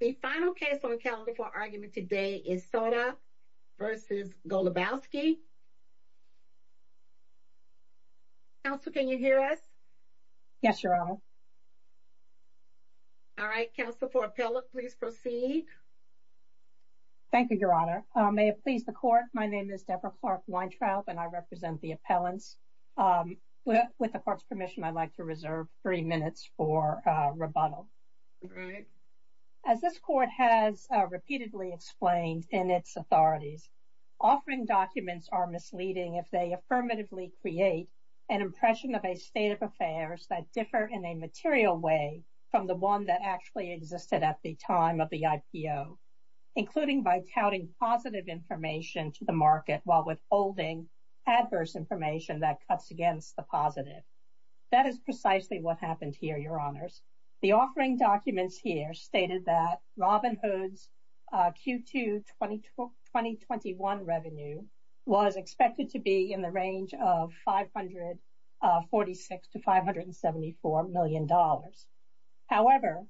The final case on the calendar for argument today is Sona v. Golubowski Counselor, can you hear us? Yes, Your Honor. All right, counsel for appellate, please proceed. Thank you, Your Honor. May it please the court, my name is Deborah Clark-Weintraub and I represent the appellants. With the court's permission, I'd like to reserve three minutes for rebuttal. As this court has repeatedly explained in its authorities, offering documents are misleading if they affirmatively create an impression of a state of affairs that differ in a material way from the one that actually existed at the time of the IPO, including by touting positive information to the market while withholding adverse information that cuts against the positive. That is precisely what happened here, Your Honors. The offering documents here stated that Robinhood's Q2 2021 revenue was expected to be in the range of $546 to $574 million. However,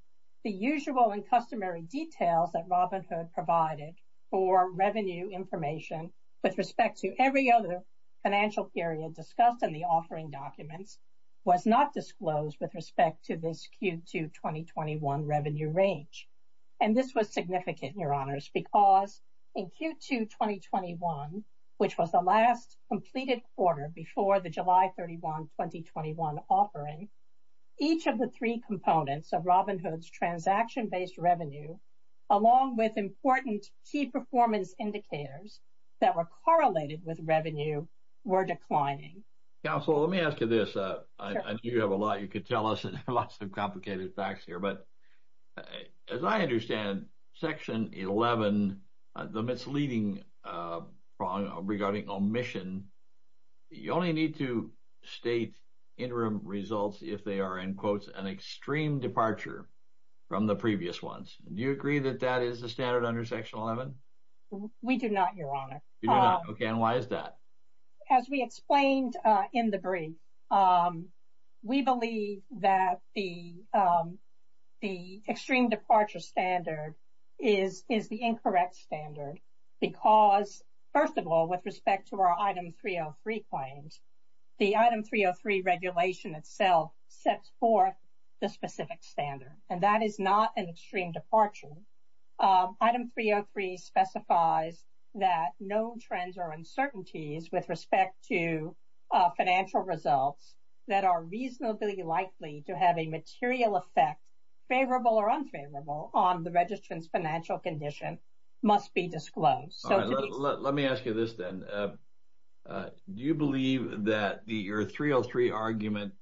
the usual and customary details that Robinhood provided for revenue information with respect to every other financial period discussed in the offering documents was not disclosed with respect to this Q2 2021 revenue range. And this was significant, Your Honors, because in Q2 2021, which was the last completed quarter before the July 31, 2021 offering, each of the three components of Robinhood's transaction-based revenue, along with important key performance indicators that were correlated with revenue, were declining. Counsel, let me ask you this. You have a lot you could tell us, lots of complicated facts here. But as I understand, Section 11, the misleading regarding omission, you only need to state interim results if they are, in quotes, an extreme departure from the previous ones. Do you agree that that is the standard under Section 11? We do not, Your Honor. You do not. Okay. And why is that? As we explained in the brief, we believe that the extreme departure standard is the incorrect standard because, first of all, with respect to our item 303 claims, the item 303 regulation itself sets forth the specific standard. And that is not an extreme departure. Item 303 specifies that no trends or uncertainties with respect to financial results that are reasonably likely to have a material effect, favorable or unfavorable, on the registrant's financial condition must be disclosed. All right. Let me ask you this, then. Do you believe that your 303 argument,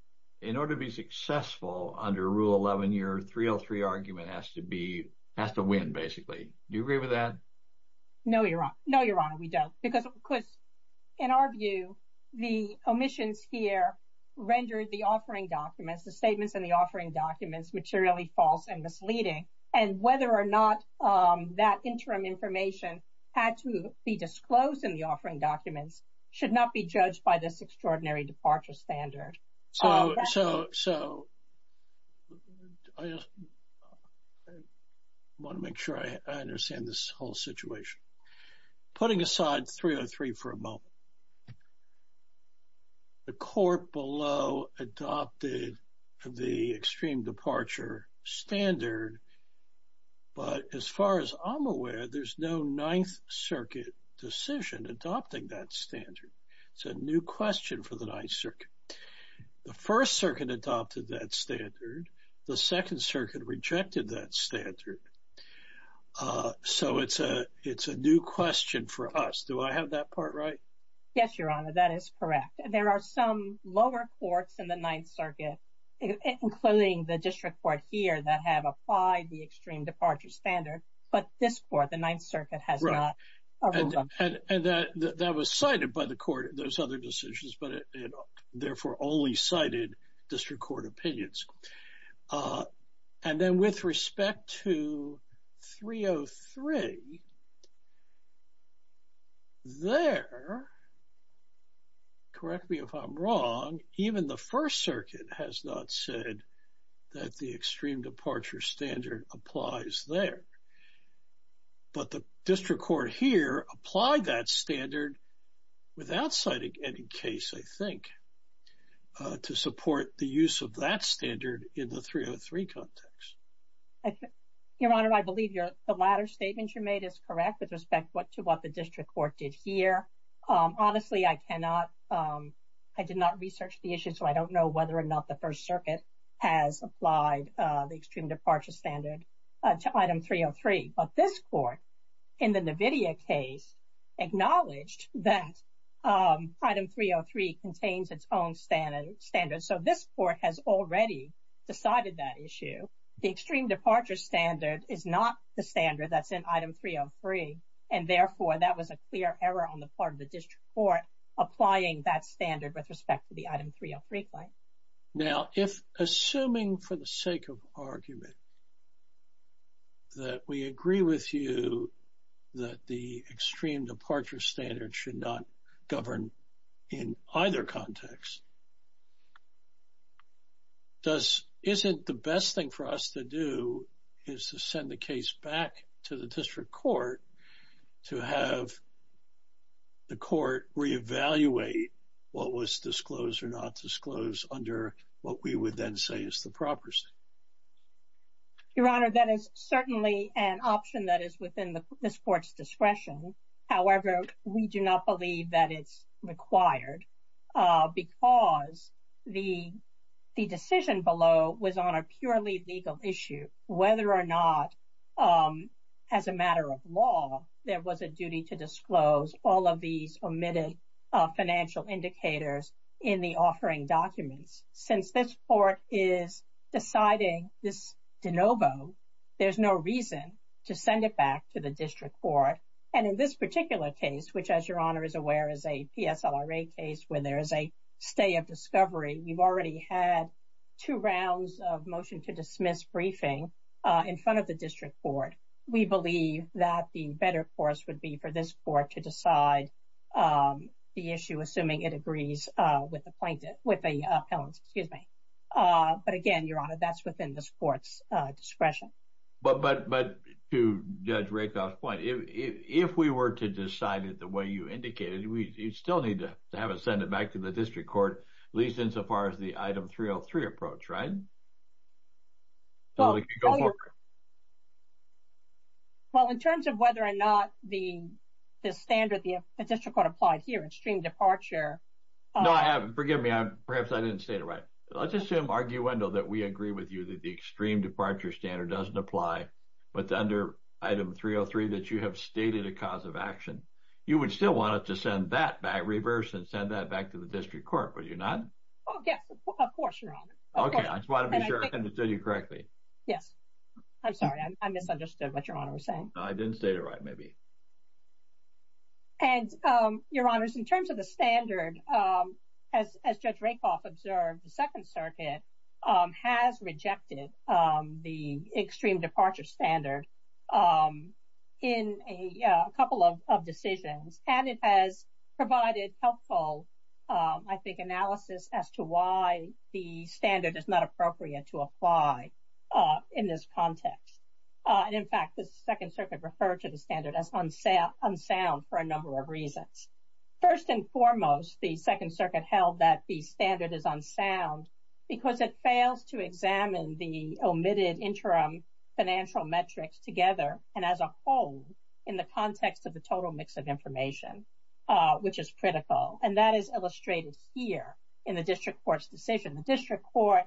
in order to be successful under Rule 11, your 303 argument has to be, has to win, basically? Do you agree with that? No, Your Honor. No, Your Honor, we don't. Because, of course, in our view, the omissions here rendered the offering documents, the statements in the offering documents, materially false and misleading. And whether or not that interim information had to be disclosed in the offering documents should not be judged by this extraordinary departure standard. So, I want to make sure I understand this whole situation. Putting aside 303 for a moment, the court below adopted the extreme departure standard, but as far as I'm aware, there's no Ninth Circuit decision adopting that standard. It's a new question for the Ninth Circuit. The First Circuit adopted that standard. The Second Circuit rejected that standard. So, it's a new question for us. Do I have that part right? Yes, Your Honor, that is correct. There are some lower courts in the Ninth Circuit, including the District Court here, that have applied the extreme departure standard, but thus far, the Ninth Circuit has not. And that was cited by the court. There's other decisions, but it therefore only cited District Court opinions. And then, with respect to 303, there, correct me if I'm wrong, even the First Circuit has not said that the extreme departure standard applies there. But the District Court here applied that standard without citing any case, I think, to support the use of that standard in the 303 context. Your Honor, I believe the latter statement you made is correct with respect to what the District Court did here. Honestly, I did not research the issue, so I don't know whether or not the First Circuit has applied the extreme departure standard to item 303. But this court, in the NVIDIA case, acknowledged that item 303 contains its own standard. So, this court has already decided that issue. The extreme departure standard is not the standard that's in item 303. And therefore, that was a clear error on the part of the District Court applying that standard with respect to the item 303 claim. Now, if, assuming for the sake of argument, that we agree with you that the extreme departure standard should not govern in either context, does, isn't the best thing for us to do is to send the case back to the District Court to have the court reevaluate what was disclosed or not disclosed under what we would then say is the proper state? Your Honor, that is certainly an option that is within this court's discretion. However, we do not believe that it's required because the decision below was on a purely legal issue, whether or not, as a matter of law, there was a duty to disclose all of these omitted financial indicators in the offering documents. Since this court is deciding this de novo, there's no reason to send it back to the District Court. And in this particular case, which, as Your Honor is aware, is a PSLRA case where there is a stay of discovery, we've already had two rounds of motion to dismiss briefing in front of the District Court. We believe that the better course would be for this court to decide the issue, assuming it agrees with the plaintiff, with the appellant, excuse me. But again, Your Honor, that's within this court's discretion. But to Judge Rakoff's point, if we were to decide it the way you indicated, you'd still need to have it send it back to the District Court, at least insofar as the item 303 approach, right? Well, in terms of whether or not the standard, the District Court applied here, extreme departure. No, I haven't. Forgive me. Perhaps I didn't state it right. Let's assume, arguendo, that we agree with you that the extreme departure standard doesn't apply, but under item 303 that you have stated a cause of action. You would still want it to send that back, reverse and send that back to the District Court, would you not? Yes, of course, Your Honor. Okay. I just want to be sure I understood you correctly. Yes. I'm sorry. I misunderstood what Your Honor was saying. I didn't state it right, maybe. And Your Honors, in terms of the standard, as Judge Rakoff observed, the Second Circuit has rejected the extreme departure standard in a couple of decisions, and it has provided helpful, I think, analysis as to why the standard is not appropriate to apply in this context. In fact, the Second Circuit referred to the standard as unsound for a number of reasons. First and foremost, the Second Circuit held that the standard is unsound because it fails to examine the omitted interim financial metrics together and as a whole in the context of the total mix of information, which is critical. And that is illustrated here in the District Court's decision. The District Court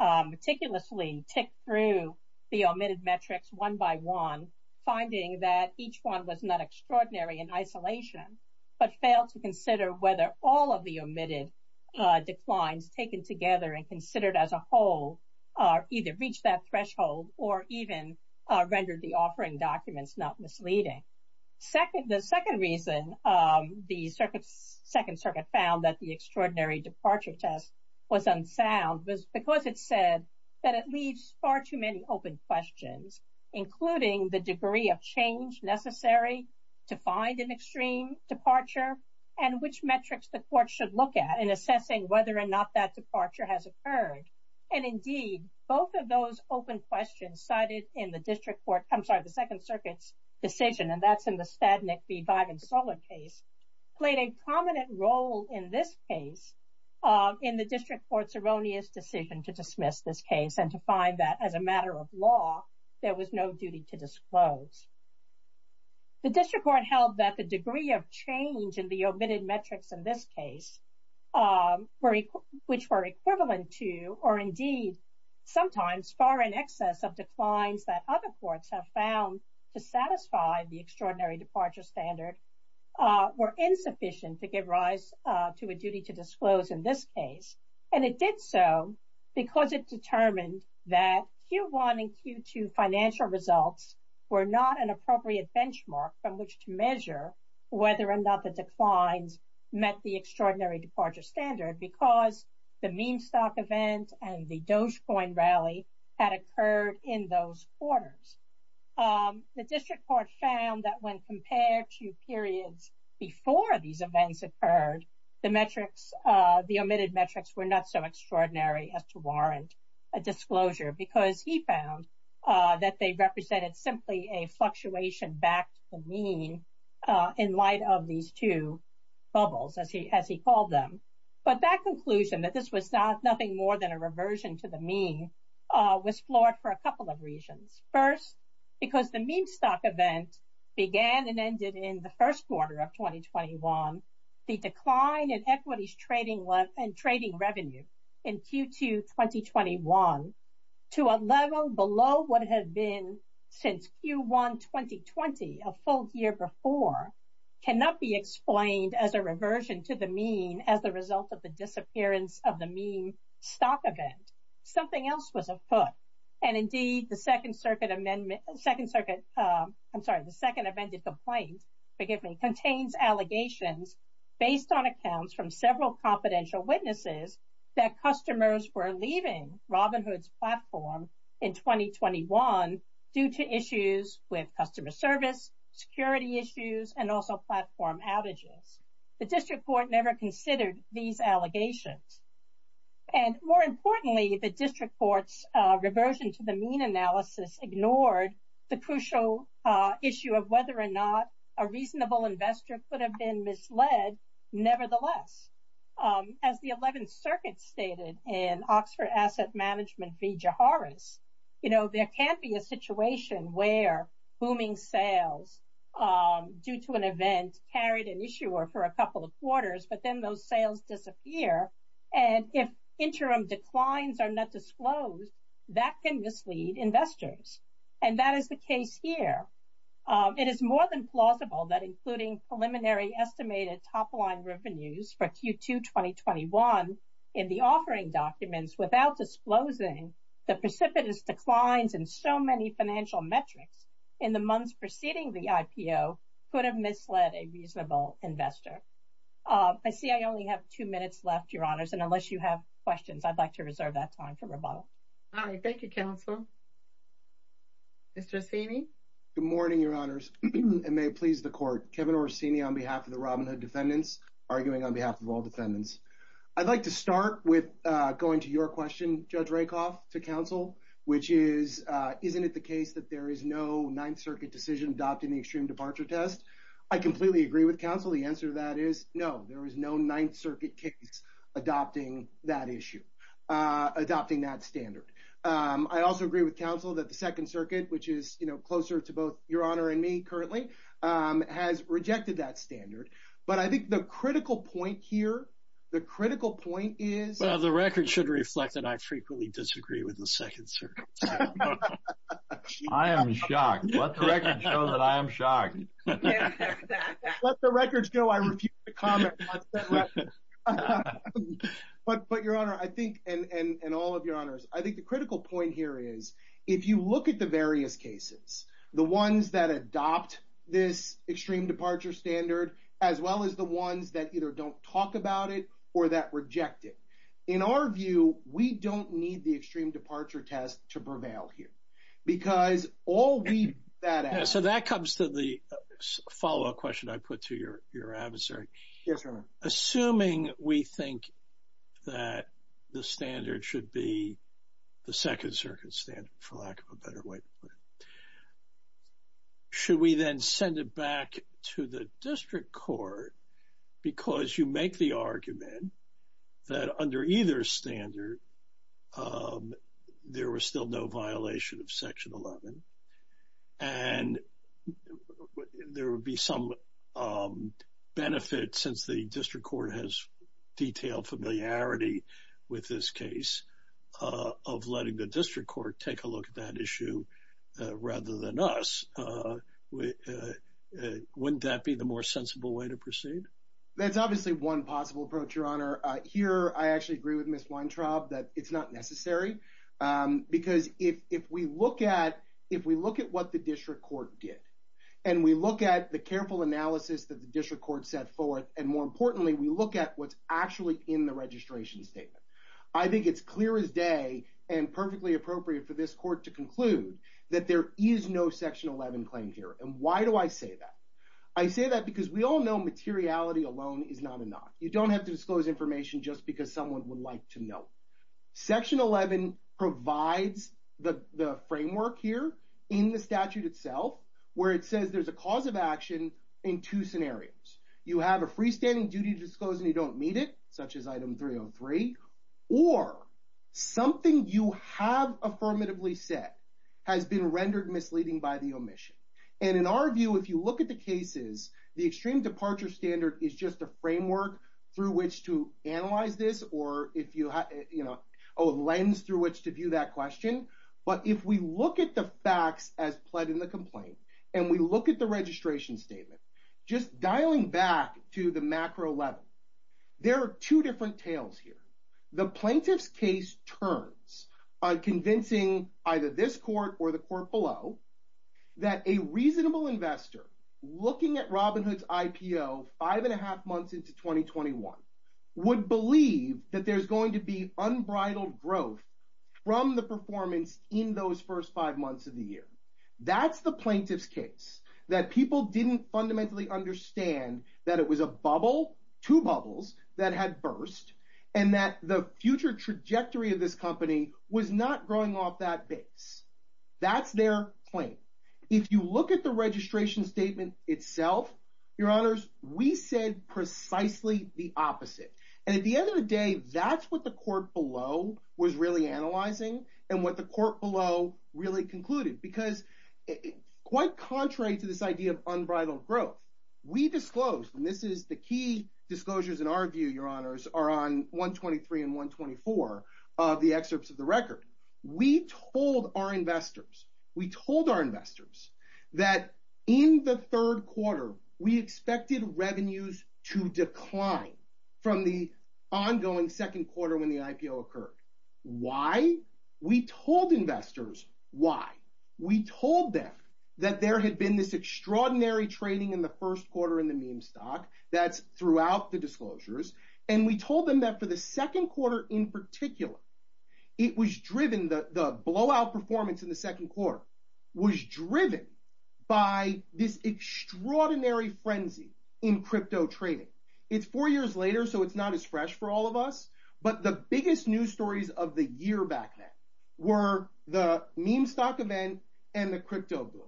meticulously ticked through the omitted metrics one by one, finding that each one was not extraordinary in isolation, but failed to consider whether all of the omitted declines taken together and considered as a whole either reached that threshold or even rendered the offering documents not misleading. The second reason the Second Circuit found that the extraordinary departure test was unsound was because it said that it leaves far too many open questions, including the degree of change necessary to find an extreme departure and which metrics the court should look at in assessing whether or not that departure has occurred. And indeed, both of those open questions cited in the District Court, I'm sorry, the Second Circuit's decision, and that's in the Stadnick v. Vagonsola case, played a prominent role in this case in the District Court's erroneous decision to dismiss this case and to find that as a matter of law, there was no duty to disclose. The District Court held that the degree of change in the omitted metrics in this case, which were equivalent to or indeed, sometimes far in excess of declines that other courts have found to satisfy the extraordinary departure standard, were insufficient to give rise to a duty to disclose in this case. And it did so because it determined that Q1 and Q2 financial results were not an appropriate benchmark from which to measure whether or not the declines met the extraordinary departure standard because the Mean Stock event and the Dogecoin rally had occurred in those quarters. The District Court found that when compared to periods before these events occurred, the metrics, the omitted metrics were not so extraordinary as to warrant a disclosure because he found that they represented simply a fluctuation back to the mean in light of these two bubbles, as he called them. But that conclusion that this was nothing more than a reversion to the mean was flawed for a couple of reasons. First, because the Mean Stock event began and ended in the first quarter of 2021, the decline in equities trading and trading revenue in Q2 2021 to a level below what had been since Q1 2020, a full year before, cannot be explained as a reversion to the mean as the result of the disappearance of the Mean Stock event. Something else was afoot. And indeed, the Second Circuit, I'm sorry, the Second Amendment Complaint, forgive me, contains allegations based on accounts from several confidential witnesses that customers were leaving Robinhood's platform in 2021 due to issues with customer service, security issues, and also platform outages. The District Court never considered these allegations. And more importantly, the District Court's reversion to the mean analysis ignored the crucial issue of whether or not a reasonable investor could have been misled, nevertheless. As the 11th Circuit stated in Oxford Asset Management v. Jaharis, you know, there can't be a situation where booming sales due to an event carried an issuer for a couple of quarters, but then those sales disappear. And if interim declines are not disclosed, that can mislead investors. And that is the case here. It is more than plausible that including preliminary estimated top-line revenues for Q2 2021 in the offering documents without disclosing the precipitous declines in so many financial metrics in the months preceding the IPO could have misled a reasonable investor. I see I only have two minutes left, Your Honors, and unless you have questions, I'd like to reserve that time for rebuttal. All right. Thank you, Counsel. Mr. Orsini? Good morning, Your Honors, and may it please the Court. Kevin Orsini on behalf of the Robinhood defendants, arguing on behalf of all defendants. I'd like to start with going to your question, Judge Rakoff, to counsel, which is, isn't it the case that there is no Ninth Circuit decision adopting the extreme departure test? I completely agree with counsel. The answer to that is no, there is no Ninth Circuit case adopting that issue, adopting that standard. I also agree with counsel that the Second Circuit, which is, you know, closer to both Your Honor and me currently, has rejected that standard. But I think the critical point here, the critical point is... Well, the record should reflect that I frequently disagree with the Second Circuit. I am shocked. Let the record show that I am shocked. Let the record show I refuse to comment on that record. But, Your Honor, I think, and all of Your Honors, I think the critical point here is, if you look at the various cases, the ones that adopt this extreme departure standard, as well as the ones that either don't talk about it or that reject it, in our view, we don't need the extreme departure test to prevail here. Because all we... So that comes to the follow-up question I put to your adversary. Yes, Your Honor. Assuming we think that the standard should be the Second Circuit standard, for lack of a better way to put it, should we then send it back to the district court? Because you make the argument that under either standard, there was still no violation of Section 11. And there would be some benefit, since the district court has detailed familiarity with this case, of letting the district court take a look at that issue rather than us. Wouldn't that be the more sensible way to proceed? That's obviously one possible approach, Your Honor. Here, I actually agree with Ms. Weintraub that it's not necessary. Because if we look at what the district court did, and we look at the careful analysis that the district court set forth, and more importantly, we look at what's actually in the registration statement, I think it's clear as day and perfectly appropriate for this court to conclude that there is no Section 11 claim here. And why do I say that? I say that because we all know materiality alone is not enough. You don't have to disclose information just because someone would like to know. Section 11 provides the framework here in the statute itself, where it says there's a cause of action in two scenarios. You have a freestanding duty to disclose and you don't meet it, such as item 303. Or something you have affirmatively said has been rendered misleading by the omission. And in our view, if you look at the cases, the extreme departure standard is just a framework through which to analyze this, or a lens through which to view that question. But if we look at the facts as pled in the complaint, and we look at the registration statement, just dialing back to the macro level, there are two different tales here. The plaintiff's case turns on convincing either this court or the court below that a reasonable investor, looking at Robinhood's IPO five and a half months into 2021, would believe that there's going to be unbridled growth from the performance in those first five months of the year. That's the plaintiff's case, that people didn't fundamentally understand that it was a bubble, two bubbles, that had burst, and that the future trajectory of this company was not growing off that base. That's their claim. If you look at the registration statement itself, your honors, we said precisely the opposite. And at the end of the day, that's what the court below was really analyzing, and what the court below really concluded. Because quite contrary to this idea of unbridled growth, we disclosed, and this is the key disclosures in our view, your honors, are on 123 and 124 of the excerpts of the record. We told our investors, we told our investors that in the third quarter, we expected revenues to decline from the ongoing second quarter when the IPO occurred. Why? We told investors why. We told them that there had been this extraordinary trading in the first quarter in the meme stock, that's throughout the disclosures. And we told them that for the second quarter in particular, it was driven, the blowout performance in the second quarter was driven by this extraordinary frenzy in crypto trading. It's four years later, so it's not as fresh for all of us. But the biggest news stories of the year back then were the meme stock event and the crypto boom.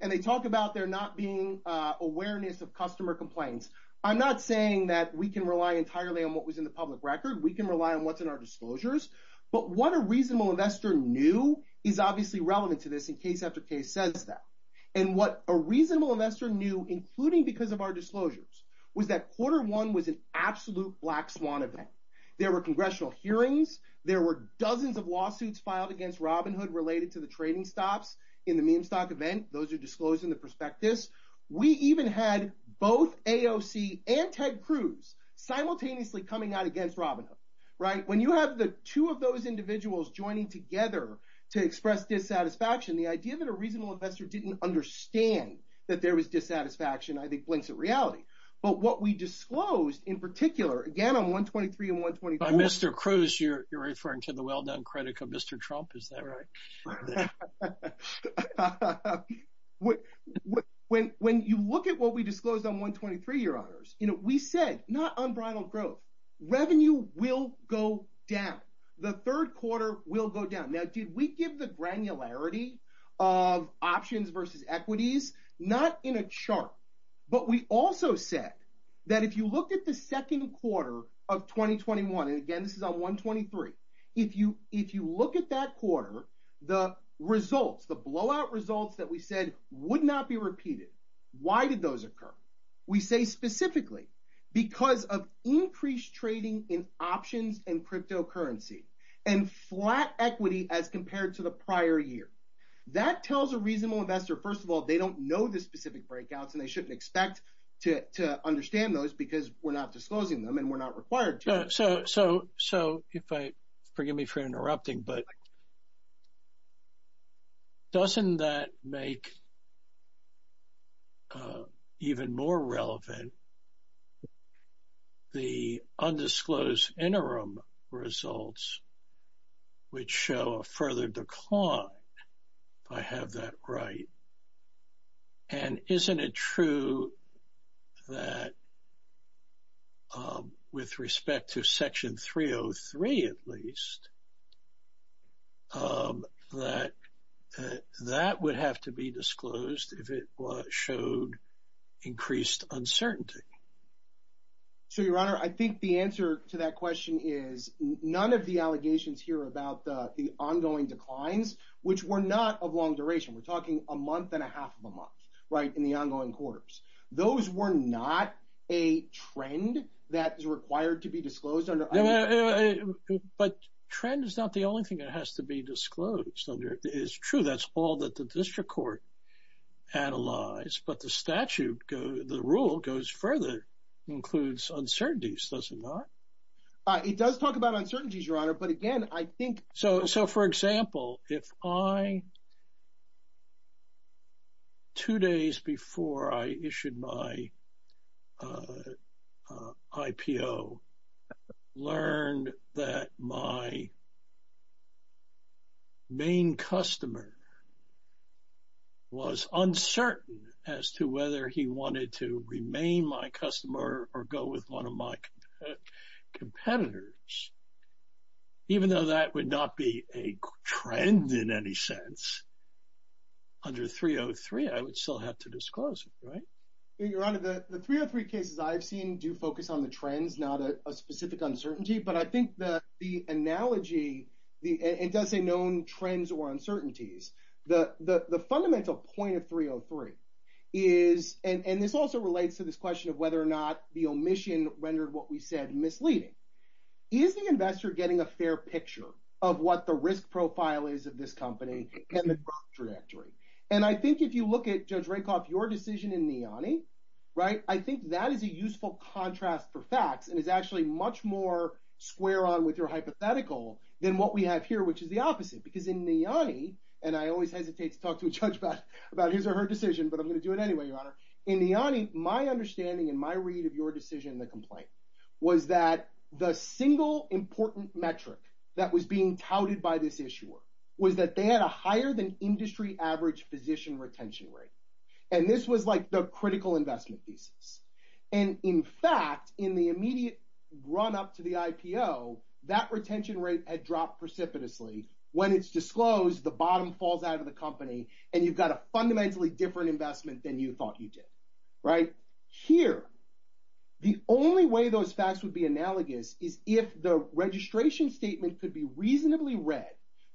And they talk about there not being awareness of customer complaints. I'm not saying that we can rely entirely on what was in the public record. We can rely on what's in our disclosures. But what a reasonable investor knew is obviously relevant to this in case after case says that. And what a reasonable investor knew, including because of our disclosures, was that quarter one was an absolute black swan event. There were congressional hearings. There were dozens of lawsuits filed against Robinhood related to the trading stops in the meme stock event. Those are disclosed in the prospectus. We even had both AOC and Ted Cruz simultaneously coming out against Robinhood, right? When you have the two of those individuals joining together to express dissatisfaction, the idea that a reasonable investor didn't understand that there was dissatisfaction, I think, blinks at reality. But what we disclosed in particular, again, on 123 and 124. Mr. Cruz, you're referring to the well-done critic of Mr. Trump, is that right? When you look at what we disclosed on 123, Your Honors, we said, not unbridled growth, revenue will go down. The third quarter will go down. Now, did we give the granularity of options versus equities? Not in a chart. But we also said that if you look at the second quarter of 2021, and again, this is on 123. If you look at that quarter, the results, the blowout results that we said would not be repeated. Why did those occur? We say specifically because of increased trading in options and cryptocurrency, and flat equity as compared to the prior year. That tells a reasonable investor, first of all, they don't know the specific breakouts, and they shouldn't expect to understand those because we're not disclosing them, and we're not required to. So if I, forgive me for interrupting, but doesn't that make it even more relevant, the undisclosed interim results which show a further decline, if I have that right? And isn't it true that with respect to Section 303, at least, that that would have to be disclosed if it showed increased uncertainty? So, Your Honor, I think the answer to that question is none of the allegations here about the ongoing declines, which were not of long duration. We're talking a month and a half of a month, right, in the ongoing quarters. Those were not a trend that is required to be disclosed I mean. But trend is not the only thing that has to be disclosed, is true. That's all that the district court analyzed. But the statute, the rule goes further, includes uncertainties, does it not? It does talk about uncertainties, Your Honor. But again, I think. So for example, if I, two days before I issued my IPO, learned that my main customer was uncertain as to whether he wanted to remain my customer or go with one of my competitors, even though that would not be a trend in any sense, under 303, I would still have to disclose it, right? Your Honor, the 303 cases I've seen do focus on the trends, not a specific uncertainty. But I think that the analogy, it does say known trends or uncertainties. The fundamental point of 303 is, and this also relates to this question of whether or not the omission rendered what we said misleading. Is the investor getting a fair picture of what the risk profile is of this company and the growth trajectory? And I think if you look at Judge Rakoff, your decision in Niani, right, I think that is a useful contrast for facts and is actually much more square on with your hypothetical than what we have here, which is the opposite. Because in Niani, and I always hesitate to talk to a judge about his or her decision, but I'm going to do it anyway, your Honor. In Niani, my understanding and my read of your decision in the complaint was that the single important metric that was being touted by this issuer was that they had a higher than industry average position retention rate. And this was like the critical investment thesis. And in fact, in the immediate run up to the IPO, that retention rate had dropped precipitously. When it's disclosed, the bottom falls out of the company and you've got a fundamentally different investment than you thought you did. Right here. The only way those facts would be analogous is if the registration statement could be reasonably read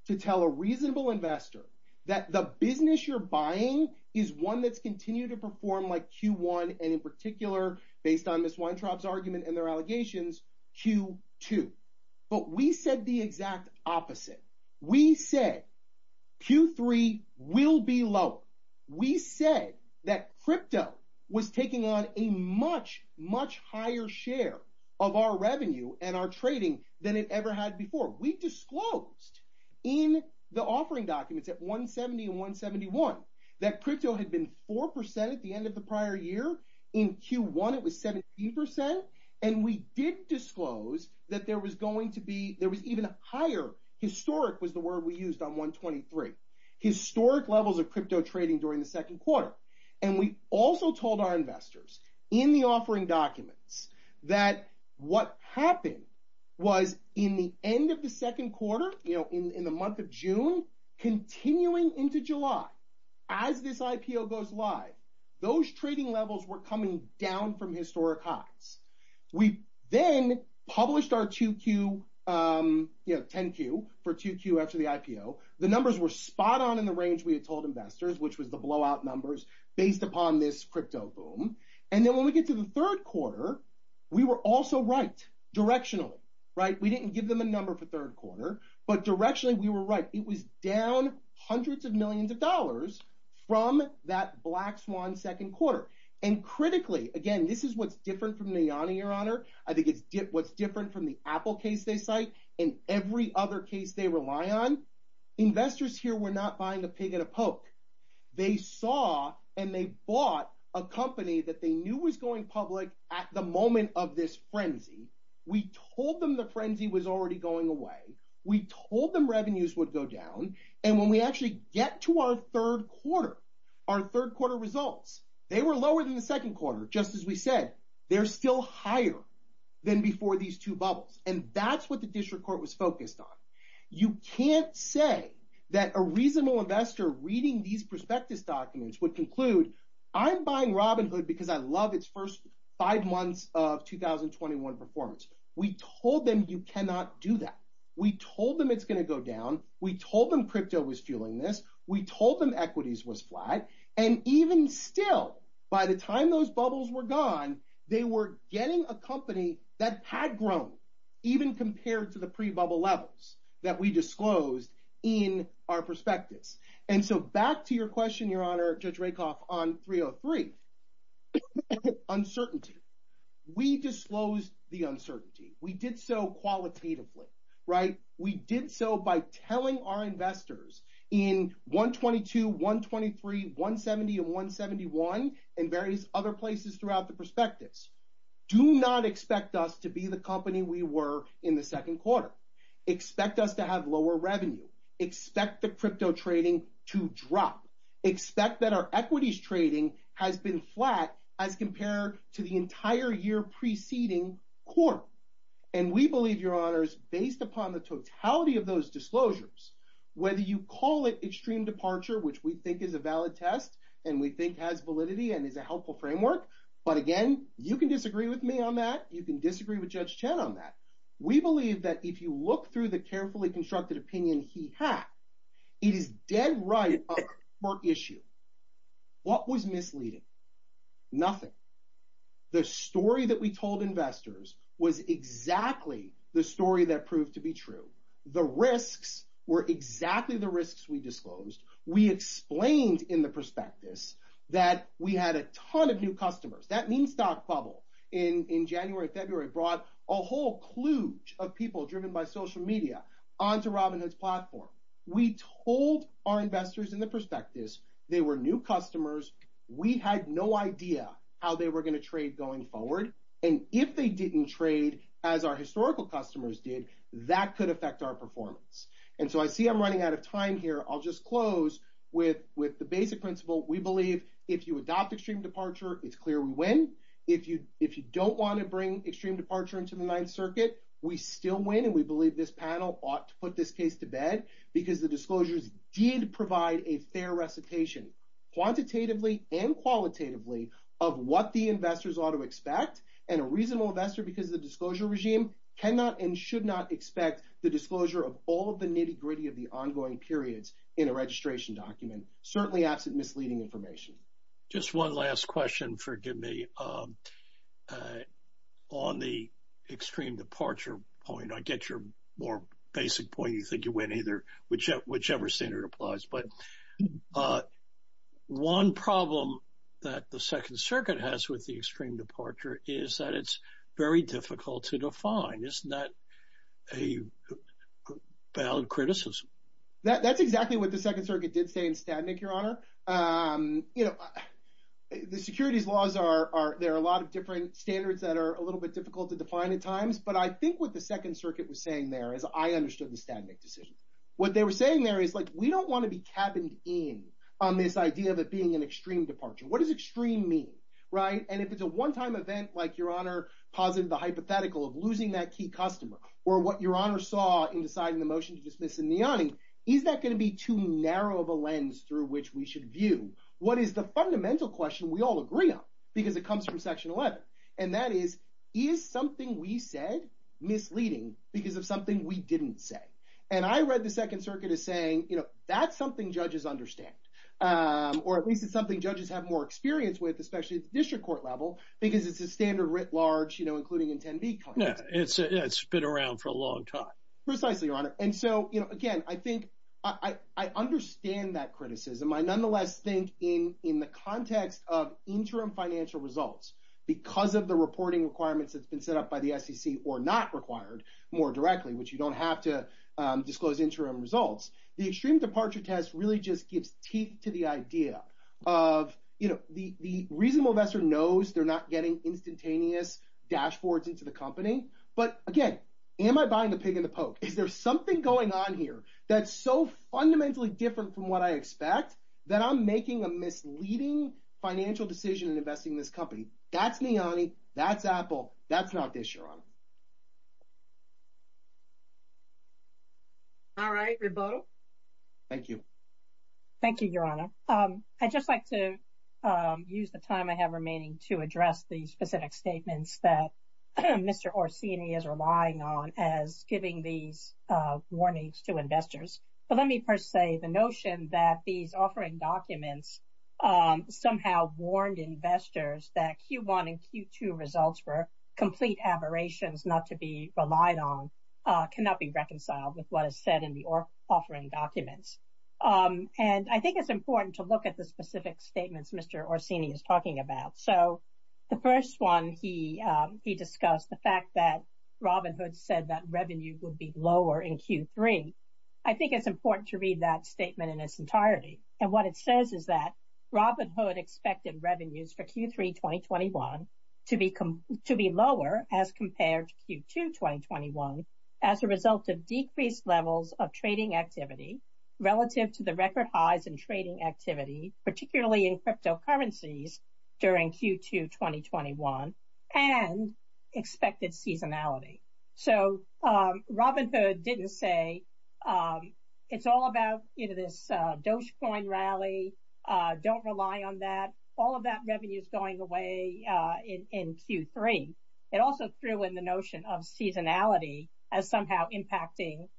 to tell a reasonable investor that the business you're buying is one that's continued to perform like Q1. And in particular, based on Ms. Weintraub's argument and their allegations, Q2. But we said the exact opposite. We said Q3 will be low. We said that crypto was taking on a much, much higher share of our revenue and our trading than it ever had before. We disclosed in the offering documents at 170 and 171, that crypto had been 4% at the end of the prior year. In Q1, it was 17%. And we did disclose that there was going to be, there was even a higher, historic was the word we used on 123, historic levels of crypto trading during the second quarter. And we also told our investors in the offering documents that what happened was in the end of the second quarter, you know, in the month of June, continuing into July, as this IPO goes live, those trading levels were coming down from historic highs. We then published our 2Q, you know, 10Q for 2Q after the IPO. The numbers were spot on in the range we had told investors, which was the blowout numbers based upon this crypto boom. And then when we get to the third quarter, we were also right directionally, right? We didn't give them a number for third quarter, but directionally, we were right. It was down hundreds of millions of dollars from that black swan second quarter. And critically, again, this is what's different from Niani, your honor. I think it's what's different from the Apple case they cite and every other case they rely on. Investors here were not buying a pig in a poke. They saw and they bought a company that they knew was going public at the moment of this frenzy. We told them the frenzy was already going away. We told them revenues would go down. And when we actually get to our third quarter, our third quarter results, they were lower than the second quarter. Just as we said, they're still higher than before these two bubbles. And that's what the district court was focused on. You can't say that a reasonable investor reading these prospectus documents would conclude I'm buying Robinhood because I love its first five months of 2021 performance. We told them you cannot do that. We told them it's going to go down. We told them crypto was fueling this. We told them equities was flat. And even still, by the time those bubbles were gone, they were getting a company that had grown even compared to the pre-bubble levels that we disclosed in our prospectus. And so back to your question, your honor, Judge Rakoff on 303, uncertainty. We disclosed the uncertainty. We did so qualitatively, right? We did so by telling our investors in 122, 123, 170, and 171, and various other places throughout the prospectus, do not expect us to be the company we were in the second quarter. Expect us to have lower revenue. Expect the crypto trading to drop. Expect that our equities trading has been flat as compared to the entire year preceding quarter. And we believe your honors, based upon the totality of those disclosures, whether you call it extreme departure, which we think is a valid test and we think has validity and is a helpful framework. But again, you can disagree with me on that. You can disagree with Judge Chen on that. We believe that if you look through the carefully constructed opinion he had, it is dead right for issue. What was misleading? Nothing. The story that we told investors was exactly the story that proved to be true. The risks were exactly the risks we disclosed. We explained in the prospectus that we had a ton of new customers. That means stock bubble in January, February brought a whole kludge of people driven by social media onto Robinhood's platform. We told our investors in the prospectus they were new customers. We had no idea how they were going to trade going forward. And if they didn't trade as our historical customers did, that could affect our performance. And so I see I'm running out of time here. I'll just close with the basic principle. We believe if you adopt extreme departure, it's clear we win. If you don't want to bring extreme departure into the ninth circuit, we still win. And we the disclosures did provide a fair recitation, quantitatively and qualitatively, of what the investors ought to expect. And a reasonable investor, because of the disclosure regime, cannot and should not expect the disclosure of all of the nitty-gritty of the ongoing periods in a registration document, certainly absent misleading information. Just one last question, forgive me. On the extreme departure point, I get your basic point. You think you win either, whichever standard applies. But one problem that the second circuit has with the extreme departure is that it's very difficult to define. Isn't that a valid criticism? That's exactly what the second circuit did say in Stadnick, Your Honor. The securities laws are, there are a lot of different standards that are a little bit difficult to define at times. But I think what the second circuit was saying there, as I understood the Stadnick decision, what they were saying there is like, we don't want to be cabined in on this idea of it being an extreme departure. What does extreme mean, right? And if it's a one-time event, like Your Honor posited the hypothetical of losing that key customer, or what Your Honor saw in deciding the motion to dismiss in Niani, is that going to be too narrow of a lens through which we should view? What is the fundamental question we all agree on? Because it comes from section 11. And that is, is something we said misleading because of something we didn't say. And I read the second circuit as saying, you know, that's something judges understand. Or at least it's something judges have more experience with, especially at the district court level, because it's a standard writ large, you know, including in 10B context. Yeah, it's been around for a long time. Precisely, Your Honor. And so, you know, again, I think I understand that criticism. I nonetheless think in the context of interim financial results, because of the reporting requirements that's been set up by the SEC, or not required more directly, which you don't have to disclose interim results. The extreme departure test really just gives teeth to the idea of, you know, the reasonable investor knows they're not getting instantaneous dashboards into the company. But again, am I buying the pig in the poke? Is there something going on here that's so fundamentally different from what I expect that I'm making a misleading financial decision in investing in this company? That's all I have to say, Your Honor. All right, Reboto. Thank you. Thank you, Your Honor. I'd just like to use the time I have remaining to address the specific statements that Mr. Orsini is relying on as giving these warnings to investors. But let me first say the notion that these offering documents somehow warned investors that Q1 and Q2 results were complete aberrations not to be relied on cannot be reconciled with what is said in the offering documents. And I think it's important to look at the specific statements Mr. Orsini is talking about. So, the first one, he discussed the fact that Robinhood said that revenue would be lower in Q3. I think it's important to read that statement in its entirety. And what it says is that Robinhood expected revenues for Q3 2021 to be lower as compared to Q2 2021 as a result of decreased levels of trading activity relative to the record highs in trading activity, particularly in cryptocurrencies during Q2 2021 and expected seasonality. So, Robinhood didn't say it's all about this Dogecoin rally, don't rely on that. All of that revenue is going away in Q3. It also threw in the notion of seasonality as somehow impacting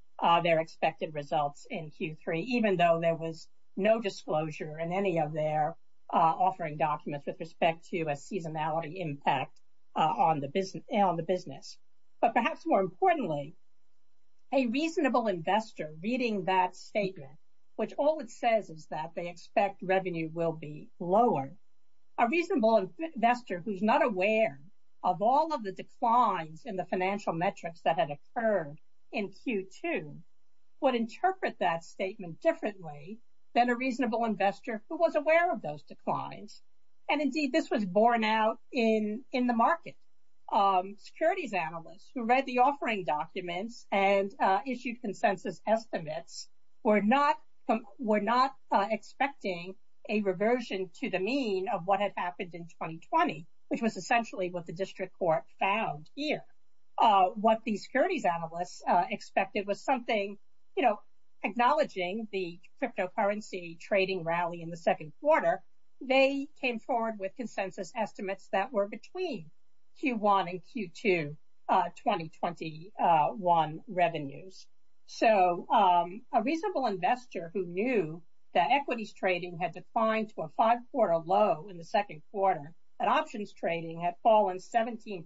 their expected results in Q3 even though there was no disclosure in any of their offering documents with respect to a seasonality impact on the business. But perhaps more importantly, a reasonable investor reading that statement, which all it says is that they expect revenue will be lower. A reasonable investor who's not aware of all of the declines in the financial metrics that had occurred in Q2 would interpret that statement differently than a reasonable investor who was aware of those declines. And indeed, this was borne out in the market. Securities analysts who read the offering documents and issued consensus estimates were not expecting a reversion to the mean of what had happened in 2020, which was essentially what the district court found here. What the securities analysts expected was something, you know, acknowledging the cryptocurrency trading rally in the second quarter, they came forward with consensus estimates that were between Q1 and Q2 2021 revenues. So a reasonable investor who knew that equities trading had declined to a five-quarter low in the second quarter, that options trading had fallen 17%,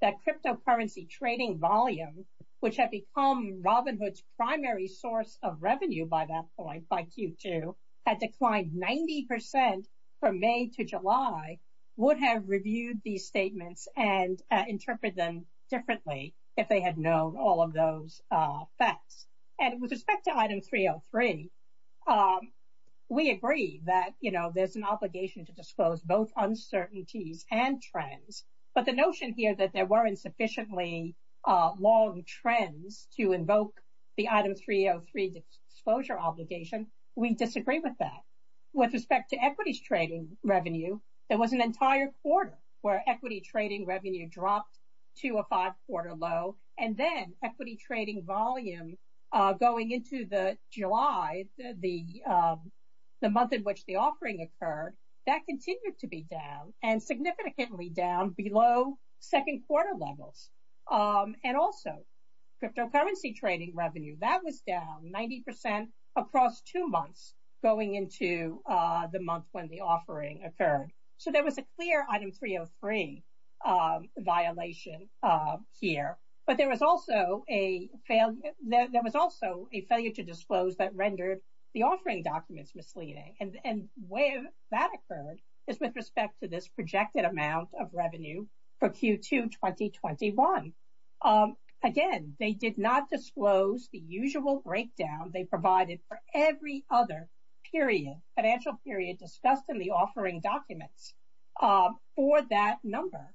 that cryptocurrency trading volume, which had become Robinhood's primary source of revenue by that point, by Q2, had declined 90% from May to July, would have reviewed these statements and interpreted them differently if they had known all of those facts. And with respect to item 303, we agree that, you know, there's an obligation to disclose both uncertainties and trends. But the notion here that there weren't sufficiently long trends to invoke the item 303 disclosure obligation, we disagree with that. With respect to equities trading revenue, there was an entire quarter where equity trading revenue dropped to a five-quarter low. And then equity trading volume going into the July, the month in which the offering occurred, that continued to be down and significantly down below second quarter levels. And also cryptocurrency trading revenue, that was down 90% across two months going into the month when the offering occurred. So there was a clear item 303 violation here, but there was also a failure to disclose that rendered the offering documents misleading. And where that occurred is with respect to this projected amount of revenue for Q2 2021. Again, they did not disclose the usual breakdown they provided for every other period, financial period discussed in the offering documents for that number,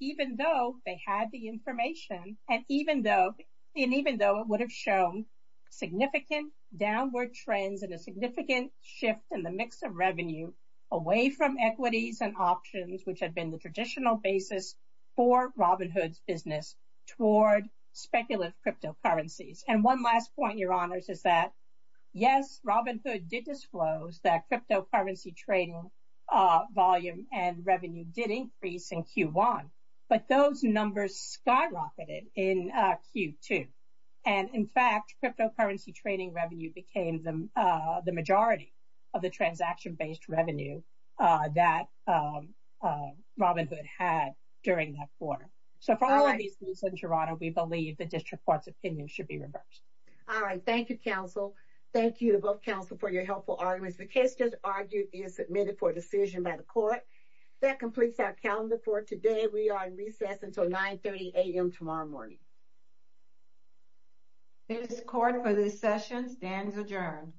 even though they had the information and even though it would have shown significant downward trends and a significant shift in the mix of revenue away from equities and options, which had been the traditional basis for Robinhood's business toward speculative cryptocurrencies. And one last point, your honors, is that yes, Robinhood did disclose that cryptocurrency trading volume and revenue did increase in Q1, but those numbers skyrocketed in Q2. And in fact, cryptocurrency trading revenue became the majority of the transaction-based revenue that Robinhood had during that quarter. So for all of these reasons in Toronto, we believe the district court's opinion should be reversed. All right. Thank you, counsel. Thank you to both counsel for your helpful arguments. The case just argued is submitted for decision by the court. That completes our calendar for today. We are in recess until 9.30 a.m. tomorrow morning. This court for this session stands adjourned.